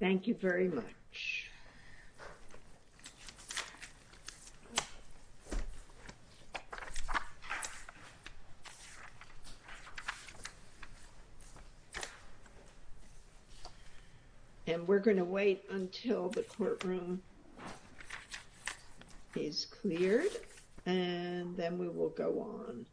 Thank you very much. And we're going to wait until the courtroom is cleared, and then we will go on.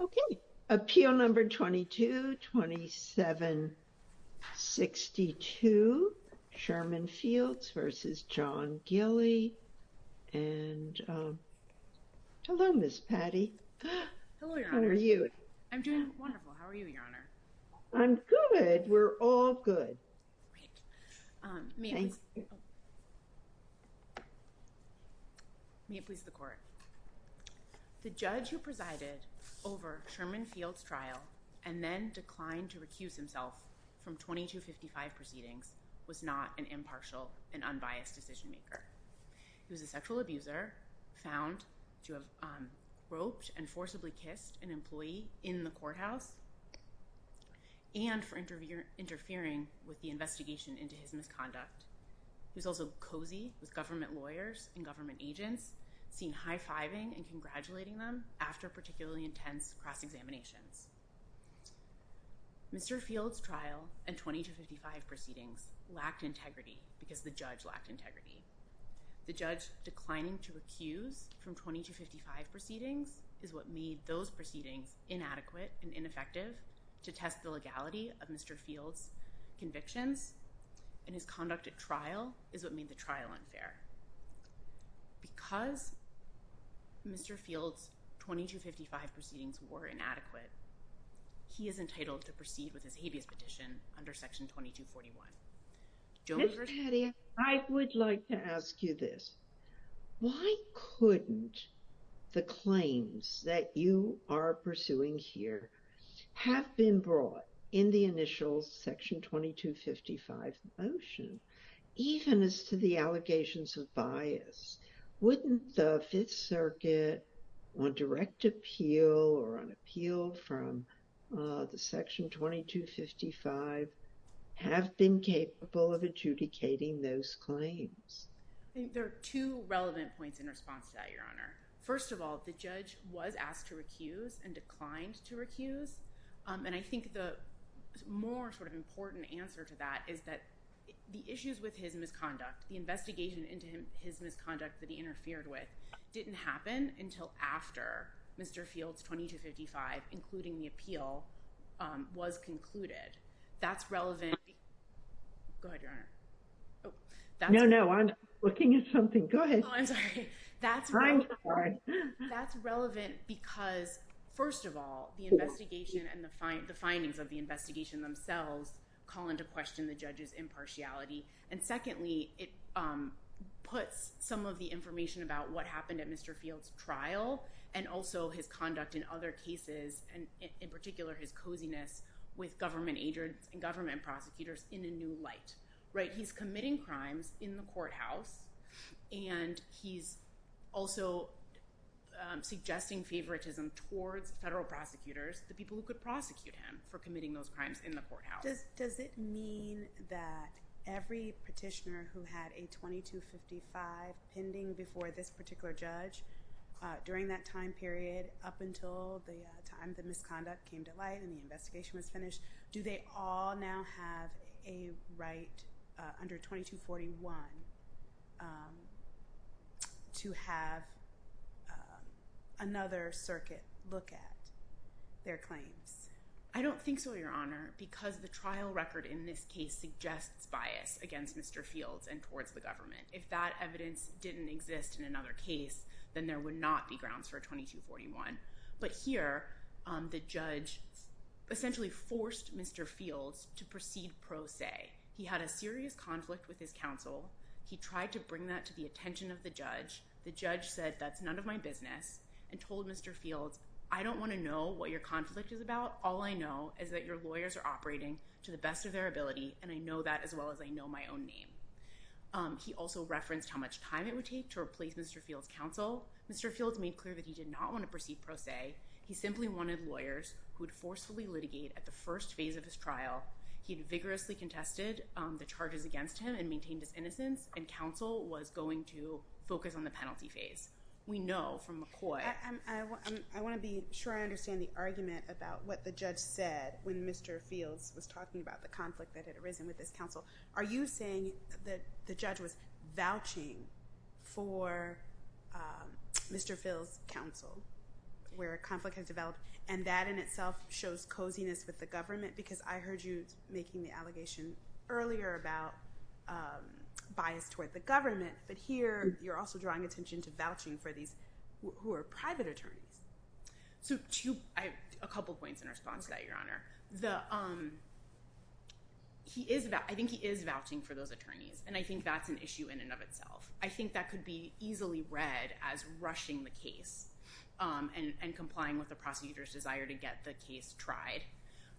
Okay. Appeal number 22, 2762, Sherman Fields versus John Gilley. And hello, Ms. Patty. Hello, Your Honor. How are you? I'm doing wonderful. How are you, Your Honor? I'm good. We're all good. Great. May it please the court. The judge who presided over Sherman Fields' trial and then declined to recuse himself from 2255 proceedings was not an impartial and unbiased decision maker. He was a sexual abuser found to have roped and forcibly kissed an employee in the courthouse and for interfering with the investigation into his misconduct. He was also cozy with government lawyers and government agents, seen high-fiving and congratulating them after particularly intense cross-examinations. Mr. Fields' trial and 2255 proceedings lacked integrity because the judge lacked integrity. The judge declining to recuse from 2255 proceedings is what made those proceedings inadequate and ineffective to test the legality of Mr. Fields' convictions and his conduct at trial is what made the trial unfair. Because Mr. Fields' 2255 proceedings were inadequate, he is entitled to proceed with his habeas petition under Section 2241. Ms. Patty, I would like to ask you this. Why couldn't the claims that you are pursuing here have been brought in the initial Section 2255 motion, even as to the allegations of bias? Wouldn't the Fifth Circuit, on direct appeal or on appeal from the Section 2255, have been capable of adjudicating those claims? There are two relevant points in response to that, Your Honor. First of all, the judge was asked to recuse and declined to recuse. And I think the more sort of important answer to that is that the issues with his misconduct, the investigation into his misconduct that he interfered with, didn't happen until after Mr. Fields' 2255, including the appeal, was concluded. That's relevant... Go ahead, Your Honor. Oh, that's... No, no. I'm looking at something. Go ahead. Oh, I'm sorry. That's relevant because, first of all, the investigation and the findings of the investigation themselves call into question the judge's impartiality. And secondly, it puts some of the information about what happened at Mr. Fields' trial and also his conduct in other cases, and in particular, his coziness with government prosecutors in a new light, right? He's committing crimes in the courthouse, and he's also suggesting favoritism towards federal prosecutors, the people who could prosecute him for committing those crimes in the courthouse. Does it mean that every petitioner who had a 2255 pending before this particular judge during that time period, up until the time the misconduct came to light and the investigation was finished, do they all now have a right under 2241 to have another circuit look at their claims? I don't think so, Your Honor, because the trial record in this case suggests bias against Mr. Fields and towards the government. If that evidence didn't exist in another case, then there would not be grounds for a 2241. But here, the judge essentially forced Mr. Fields to proceed pro se. He had a serious conflict with his counsel. He tried to bring that to the attention of the judge. The judge said, that's none of my business, and told Mr. Fields, I don't want to know what your conflict is about. All I know is that your lawyers are operating to the best of their ability, and I know that as well as I know my own name. Mr. Fields made clear that he did not want to proceed pro se. He simply wanted lawyers who would forcefully litigate at the first phase of his trial. He had vigorously contested the charges against him and maintained his innocence, and counsel was going to focus on the penalty phase. We know from McCoy. I want to be sure I understand the argument about what the judge said when Mr. Fields was talking about the conflict that had arisen with his counsel. Are you saying that the judge was vouching for Mr. Fields' counsel, where a conflict has developed, and that in itself shows coziness with the government? Because I heard you making the allegation earlier about bias toward the government. But here, you're also drawing attention to vouching for these who are private attorneys. So I have a couple of points in response to that, Your Honor. I think he is vouching for those attorneys, and I think that's an issue in and of itself. I think that could be easily read as rushing the case and complying with the prosecutor's desire to get the case tried.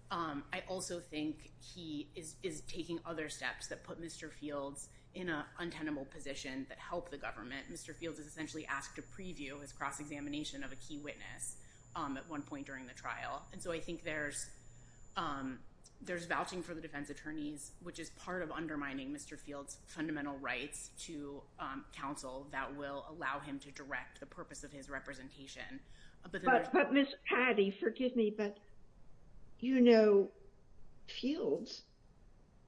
I also think he is taking other steps that put Mr. Fields in an untenable position that helped the government. Mr. Fields is essentially asked to preview his cross-examination of a key witness at one point during the trial. And so I think there's, um, there's vouching for the defense attorneys, which is part of undermining Mr. Fields' fundamental rights to, um, counsel that will allow him to direct the purpose of his representation. But there's... But Ms. Patti, forgive me, but you know, Fields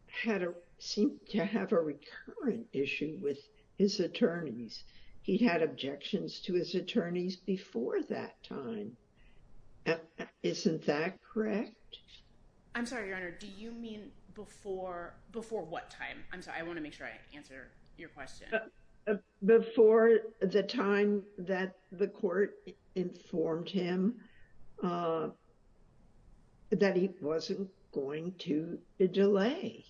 had a, seemed to have a recurrent issue with his attorneys. He had objections to his attorneys before that time. And isn't that correct? I'm sorry, Your Honor, do you mean before, before what time? I'm sorry, I want to make sure I answer your question. Before the time that the court informed him, uh, that he wasn't going to delay.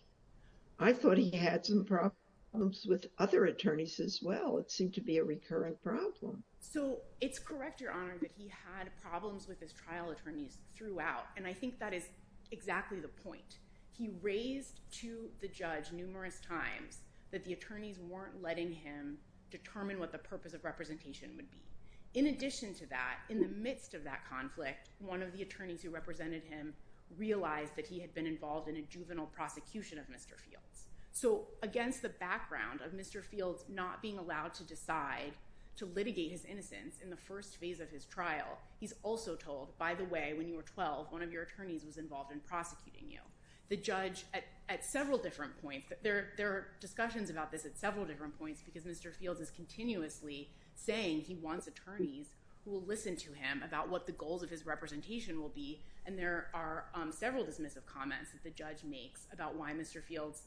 I thought he had some problems with other attorneys as well. It seemed to be a recurrent problem. So it's correct, Your Honor, that he had problems with his trial attorneys throughout. And I think that is exactly the point. He raised to the judge numerous times that the attorneys weren't letting him determine what the purpose of representation would be. In addition to that, in the midst of that conflict, one of the attorneys who represented him realized that he had been involved in a juvenile prosecution of Mr. Fields. So against the background of Mr. Fields not being allowed to decide to litigate his innocence in the first phase of his trial, he's also told, by the way, when you were 12, one of your attorneys was involved in prosecuting you. The judge, at several different points, there are discussions about this at several different points because Mr. Fields is continuously saying he wants attorneys who will listen to him about what the goals of his representation will be, and there are several dismissive comments that the judge makes about why Mr. Fields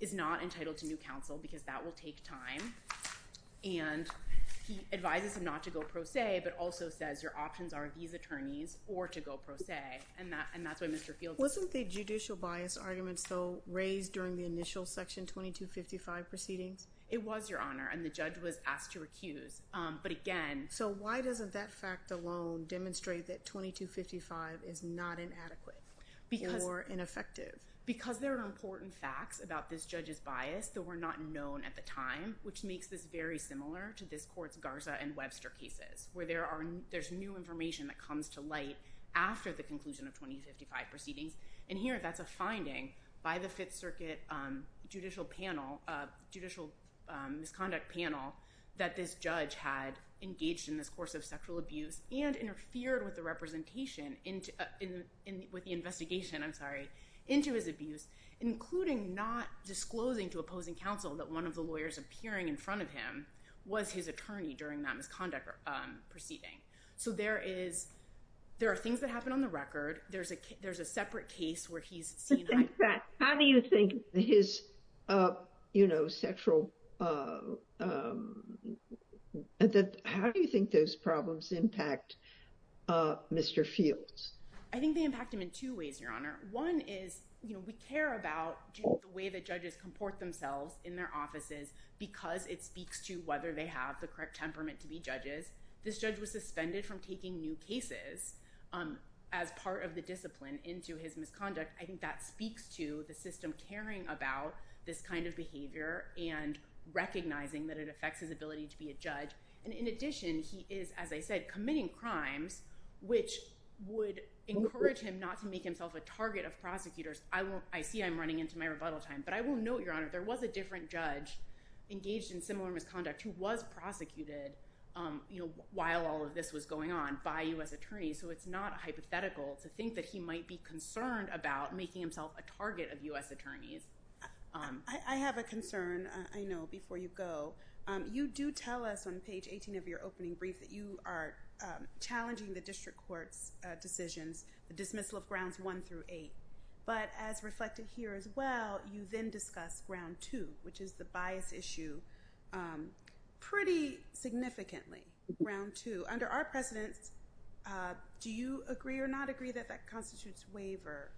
is not entitled to new counsel, because that will take time. And he advises him not to go pro se, but also says your options are these attorneys or to go pro se, and that's why Mr. Fields— Wasn't the judicial bias argument still raised during the initial Section 2255 proceedings? It was, Your Honor, and the judge was asked to recuse, but again— So why doesn't that fact alone demonstrate that 2255 is not inadequate or ineffective? Because there are important facts about this judge's bias that were not known at the time, which makes this very similar to this court's Garza and Webster cases, where there's new information that comes to light after the conclusion of 2255 proceedings, and here that's a finding by the Fifth Circuit judicial panel—judicial misconduct panel—that this judge had engaged in this course of sexual abuse and interfered with the representation—with the investigation, I'm sorry—into his abuse, including not disclosing to opposing counsel that one of the lawyers appearing in front of him was his attorney during that misconduct proceeding. So there is—there are things that happen on the record. There's a—there's a separate case where he's seen— Just like that. How do you think his, you know, sexual—how do you think those problems impact Mr. Fields? I think they impact him in two ways, Your Honor. One is, you know, we care about the way that judges comport themselves in their offices because it speaks to whether they have the correct temperament to be judges. This judge was suspended from taking new cases as part of the discipline into his misconduct. I think that speaks to the system caring about this kind of behavior and recognizing that it affects his ability to be a judge. And in addition, he is, as I said, committing crimes which would encourage him not to make himself a target of prosecutors. I won't—I see I'm running into my rebuttal time, but I will note, Your Honor, there was a different judge engaged in similar misconduct who was prosecuted, you know, while all of this was going on by U.S. attorneys. So it's not hypothetical to think that he might be concerned about making himself a target of U.S. attorneys. I have a concern, I know, before you go. You do tell us on page 18 of your opening brief that you are challenging the district court's decisions, the dismissal of grounds one through eight. But as reflected here as well, you then discuss ground two, which is the bias issue pretty significantly, ground two. Under our precedents, do you agree or not agree that that constitutes waiver?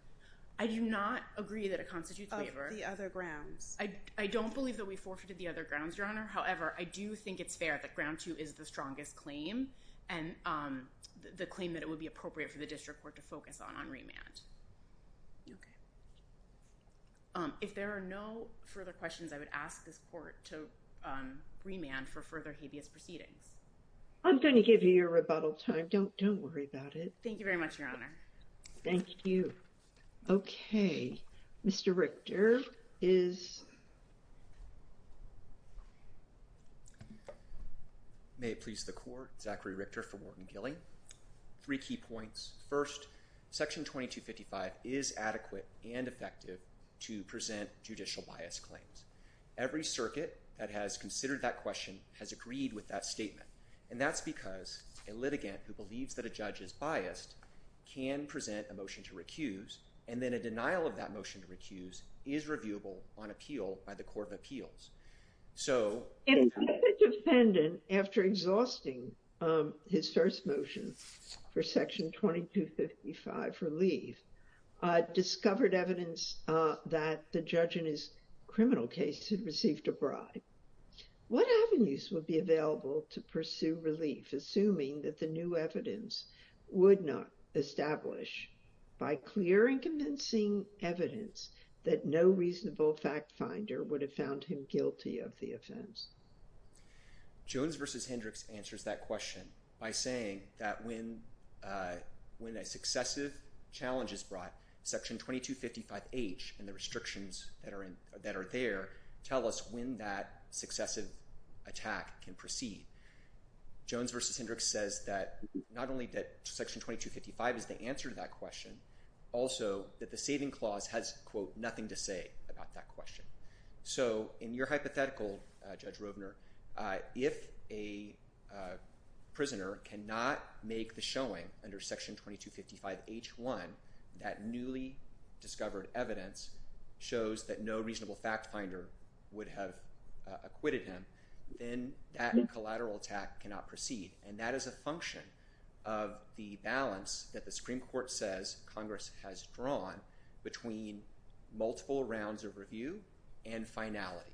I do not agree that it constitutes waiver. Of the other grounds? I don't believe that we forfeited the other grounds, Your Honor. However, I do think it's fair that ground two is the strongest claim and the claim that it would be appropriate for the district court to focus on on remand. OK. If there are no further questions, I would ask this court to remand for further habeas proceedings. I'm going to give you your rebuttal time. Don't worry about it. Thank you very much, Your Honor. Thank you. OK. Mr. Richter is. May it please the court. Zachary Richter for Wharton Gilley. Three key points. First, Section 2255 is adequate and effective to present judicial bias claims. Every circuit that has considered that question has agreed with that statement. And that's because a litigant who believes that a judge is biased can present a motion to recuse and then a denial of that motion to recuse is reviewable on appeal by the Court of Appeals. So if the defendant, after exhausting his first motion for Section 2255 relief, discovered evidence that the judge in his criminal case had received a bribe, what avenues would be available to pursue relief, assuming that the new evidence would not establish by clear and convincing evidence that no reasonable fact finder would have found him guilty of the offense? Jones v. Hendricks answers that question by saying that when a successive challenge is brought, Section 2255H and the restrictions that are there tell us when that successive attack can proceed. Jones v. Hendricks says that not only that Section 2255 is the answer to that question, also that the saving clause has, quote, nothing to say about that question. So in your hypothetical, Judge Rovner, if a prisoner cannot make the showing under Section 2255H1 that newly discovered evidence shows that no reasonable fact finder would have acquitted him, then that collateral attack cannot proceed. And that is a function of the balance that the Supreme Court says Congress has drawn between multiple rounds of review and finality.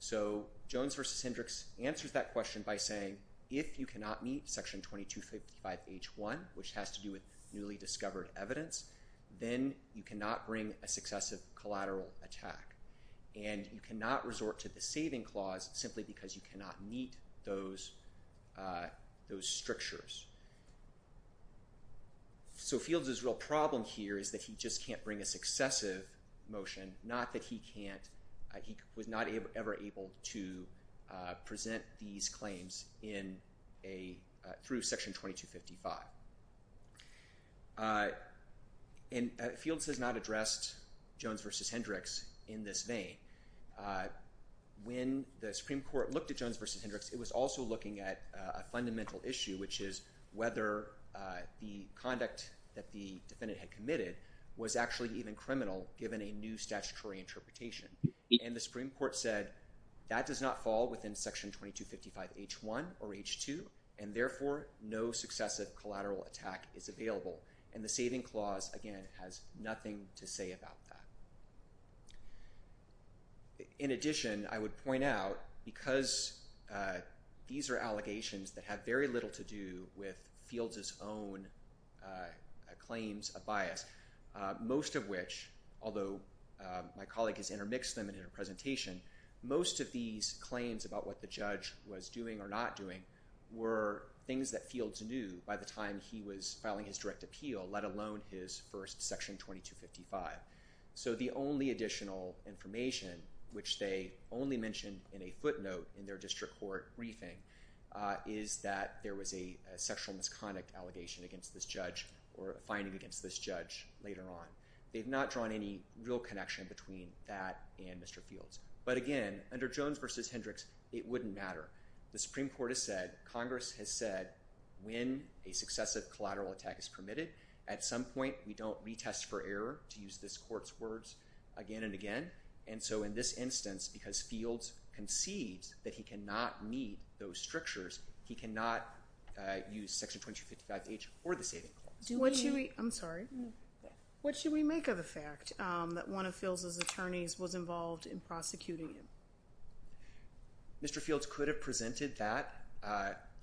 So Jones v. Hendricks answers that question by saying, if you cannot meet Section 2255H1, which has to do with newly discovered evidence, then you cannot bring a successive collateral attack. And you cannot resort to the saving clause simply because you cannot meet those strictures. So Fields' real problem here is that he just can't bring a successive motion, not that he was not ever able to present these claims through Section 2255. And Fields has not addressed Jones v. Hendricks in this vein. When the Supreme Court looked at Jones v. Hendricks, it was also looking at a fundamental issue, which is whether the conduct that the defendant had committed was actually even criminal given a new statutory interpretation. And the Supreme Court said that does not fall within Section 2255H1 or H2, and therefore no successive collateral attack is available. And the saving clause, again, has nothing to say about that. In addition, I would point out, because these are allegations that have very little to do with Fields' own claims of bias, most of which, although my colleague has intermixed them in her presentation, most of these claims about what the judge was doing or not doing were things that Fields knew by the time he was filing his direct appeal, let alone his first Section 2255. So the only additional information, which they only mentioned in a footnote in their district court briefing, is that there was a sexual misconduct allegation against this judge or a finding against this judge later on. They've not drawn any real connection between that and Mr. Fields. But again, under Jones v. Hendricks, it wouldn't matter. The Supreme Court has said, Congress has said, when a successive collateral attack is permitted, at some point we don't retest for error, to use this Court's words, again and again. And so in this instance, because Fields concedes that he cannot meet those strictures, he cannot use Section 2255H or the saving clause. Do we— I'm sorry. What should we make of the fact that one of Fields' attorneys was involved in prosecuting him? Mr. Fields could have presented that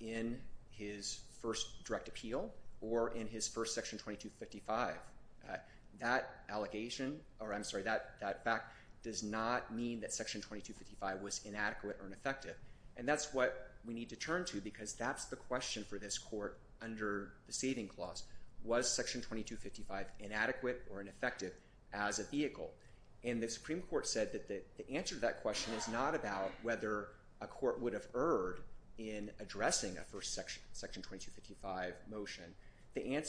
in his first direct appeal or in his first Section 2255. That allegation—or I'm sorry, that fact does not mean that Section 2255 was inadequate or ineffective. And that's what we need to turn to, because that's the question for this Court under the saving clause. Was Section 2255 inadequate or ineffective as a vehicle? And the Supreme Court said that the answer to that question is not about whether a court would have erred in addressing a first Section 2255 motion. Section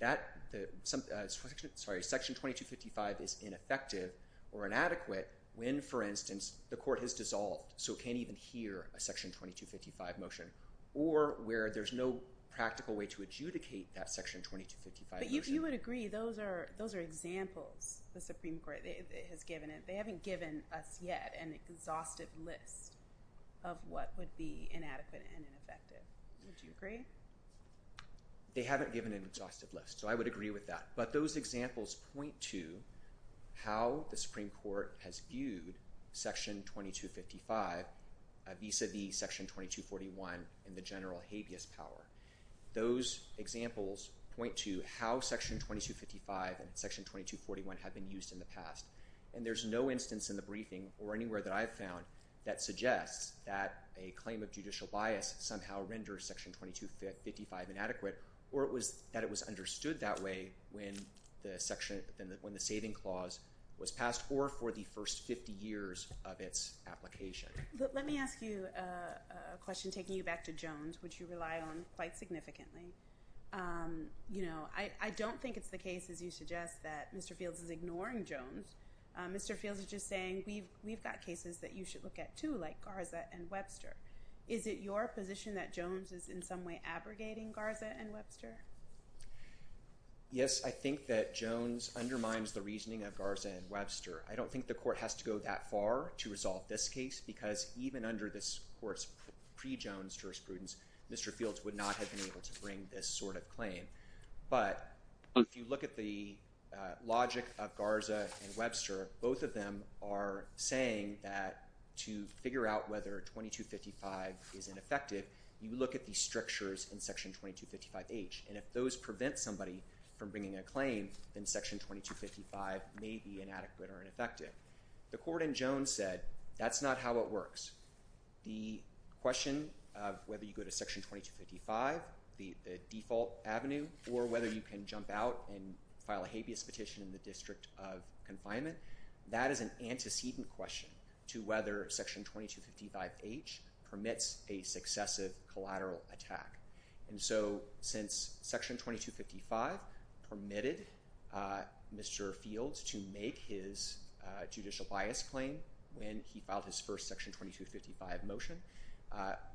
2255 is ineffective or inadequate when, for instance, the Court has dissolved, so can't even hear a Section 2255 motion, or where there's no practical way to adjudicate that Section 2255 motion. But you would agree those are examples, the Supreme Court. They haven't given us yet an exhaustive list of what would be inadequate and ineffective. Would you agree? They haven't given an exhaustive list, so I would agree with that. But those examples point to how the Supreme Court has viewed Section 2255 vis-a-vis Section 2241 and the general habeas power. Those examples point to how Section 2255 and Section 2241 have been used in the past. And there's no instance in the briefing or anywhere that I've found that suggests that a claim of judicial bias somehow renders Section 2255 inadequate or that it was understood that way when the saving clause was passed or for the first 50 years of its application. Let me ask you a question taking you back to Jones, which you rely on quite significantly. I don't think it's the case, as you suggest, that Mr. Fields is ignoring Jones. Mr. Fields is just saying, we've got cases that you should look at too, like Garza and Webster. Is it your position that Jones is in some way abrogating Garza and Webster? Yes, I think that Jones undermines the reasoning of Garza and Webster. I don't think the court has to go that far to resolve this case, because even under this court's pre-Jones jurisprudence, Mr. Fields would not have been able to bring this sort of claim. But if you look at the logic of Garza and Webster, both of them are saying that to figure out whether 2255 is ineffective, you look at the strictures in Section 2255H. And if those prevent somebody from bringing a claim, then Section 2255 may be inadequate or ineffective. The court in Jones said, that's not how it works. The question of whether you go to Section 2255, the default avenue, or whether you can jump out and file a habeas petition in the district of confinement, that is an antecedent question to whether Section 2255H permits a successive collateral attack. And so since Section 2255 permitted Mr. Fields to make his judicial bias claim when he filed his first Section 2255 motion,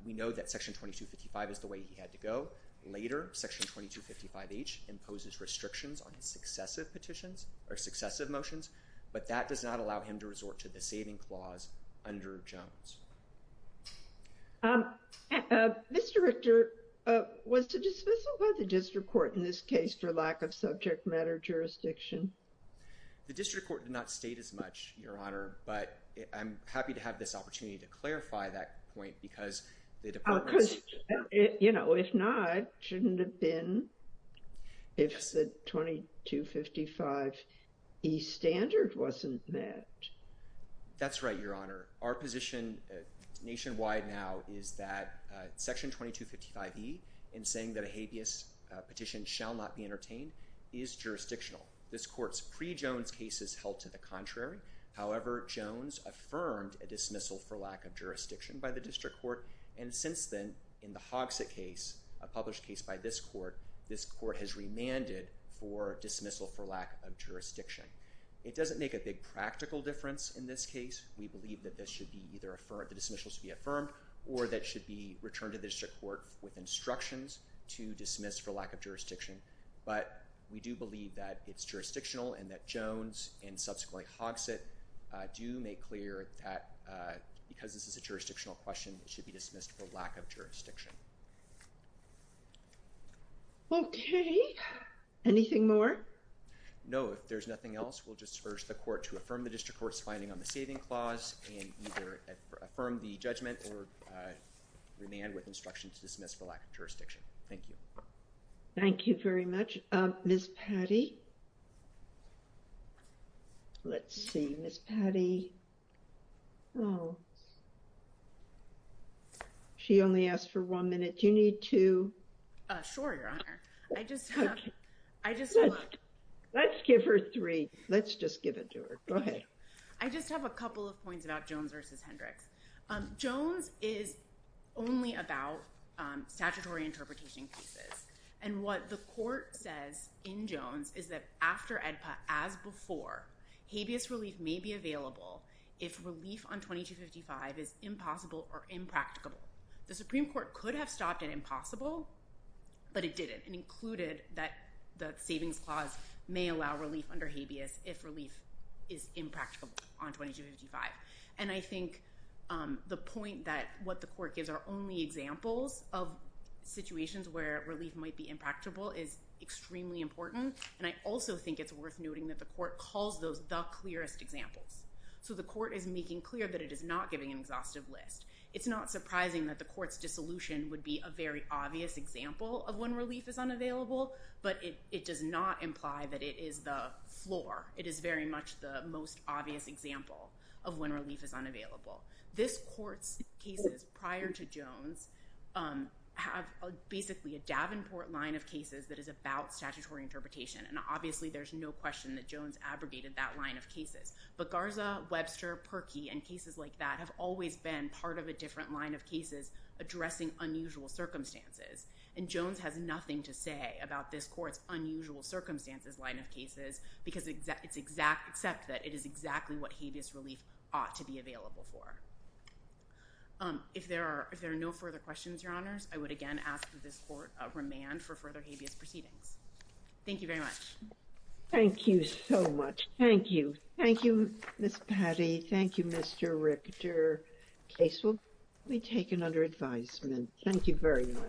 we know that Section 2255 is the way he had to go. Later, Section 2255H imposes restrictions on successive petitions or successive motions, but that does not allow him to resort to the saving clause under Jones. Um, uh, Mr. Richter, uh, was the dismissal by the district court in this case for lack of subject matter jurisdiction? The district court did not state as much, Your Honor, but I'm happy to have this opportunity to clarify that point because the department's... Oh, because, you know, if not, shouldn't it have been if the 2255E standard wasn't met? That's right, Your Honor. Our position nationwide now is that Section 2255E in saying that a habeas petition shall not be entertained is jurisdictional. This court's pre-Jones case is held to the contrary. However, Jones affirmed a dismissal for lack of jurisdiction by the district court, and since then, in the Hogsett case, a published case by this court, this court has remanded for dismissal for lack of jurisdiction. It doesn't make a big practical difference in this case. We believe that this should be either affirmed, the dismissal should be affirmed, or that should be returned to the district court with instructions to dismiss for lack of jurisdiction. But we do believe that it's jurisdictional and that Jones and subsequently Hogsett do make clear that because this is a jurisdictional question, it should be dismissed for lack of jurisdiction. Okay. Anything more? No. If there's nothing else, we'll just urge the court to affirm the district court's finding on the saving clause and either affirm the judgment or remand with instructions to dismiss for lack of jurisdiction. Thank you. Thank you very much. Ms. Patti? Let's see. Ms. Patti? Oh. She only asked for one minute. Do you need two? Sure, Your Honor. I just, I just. Let's give her three. Let's just give it to her. Go ahead. I just have a couple of points about Jones versus Hendricks. Jones is only about statutory interpretation cases. And what the court says in Jones is that after AEDPA, as before, habeas relief may be available if relief on 2255 is impossible or impracticable. The Supreme Court could have stopped at impossible, but it didn't, and included that the savings clause may allow relief under habeas if relief is impracticable on 2255. And I think the point that what the court gives are only examples of situations where relief might be impracticable is extremely important. And I also think it's worth noting that the court calls those the clearest examples. So the court is making clear that it is not giving an exhaustive list. It's not surprising that the court's dissolution would be a very obvious example of when relief is unavailable, but it does not imply that it is the floor. It is very much the most obvious example of when relief is unavailable. This court's cases prior to Jones have basically a Davenport line of cases that is about statutory interpretation. And obviously, there's no question that Jones abrogated that line of cases. But Garza, Webster, Perkey, and cases like that have always been part of a different line of cases addressing unusual circumstances. And Jones has nothing to say about this court's unusual circumstances line of cases because except that it is exactly what habeas relief ought to be available for. If there are no further questions, Your Honors, I would again ask that this court remand for further habeas proceedings. Thank you very much. Thank you so much. Thank you. Thank you, Ms. Patty. Thank you, Mr. Richter. Case will be taken under advisement. Thank you very much.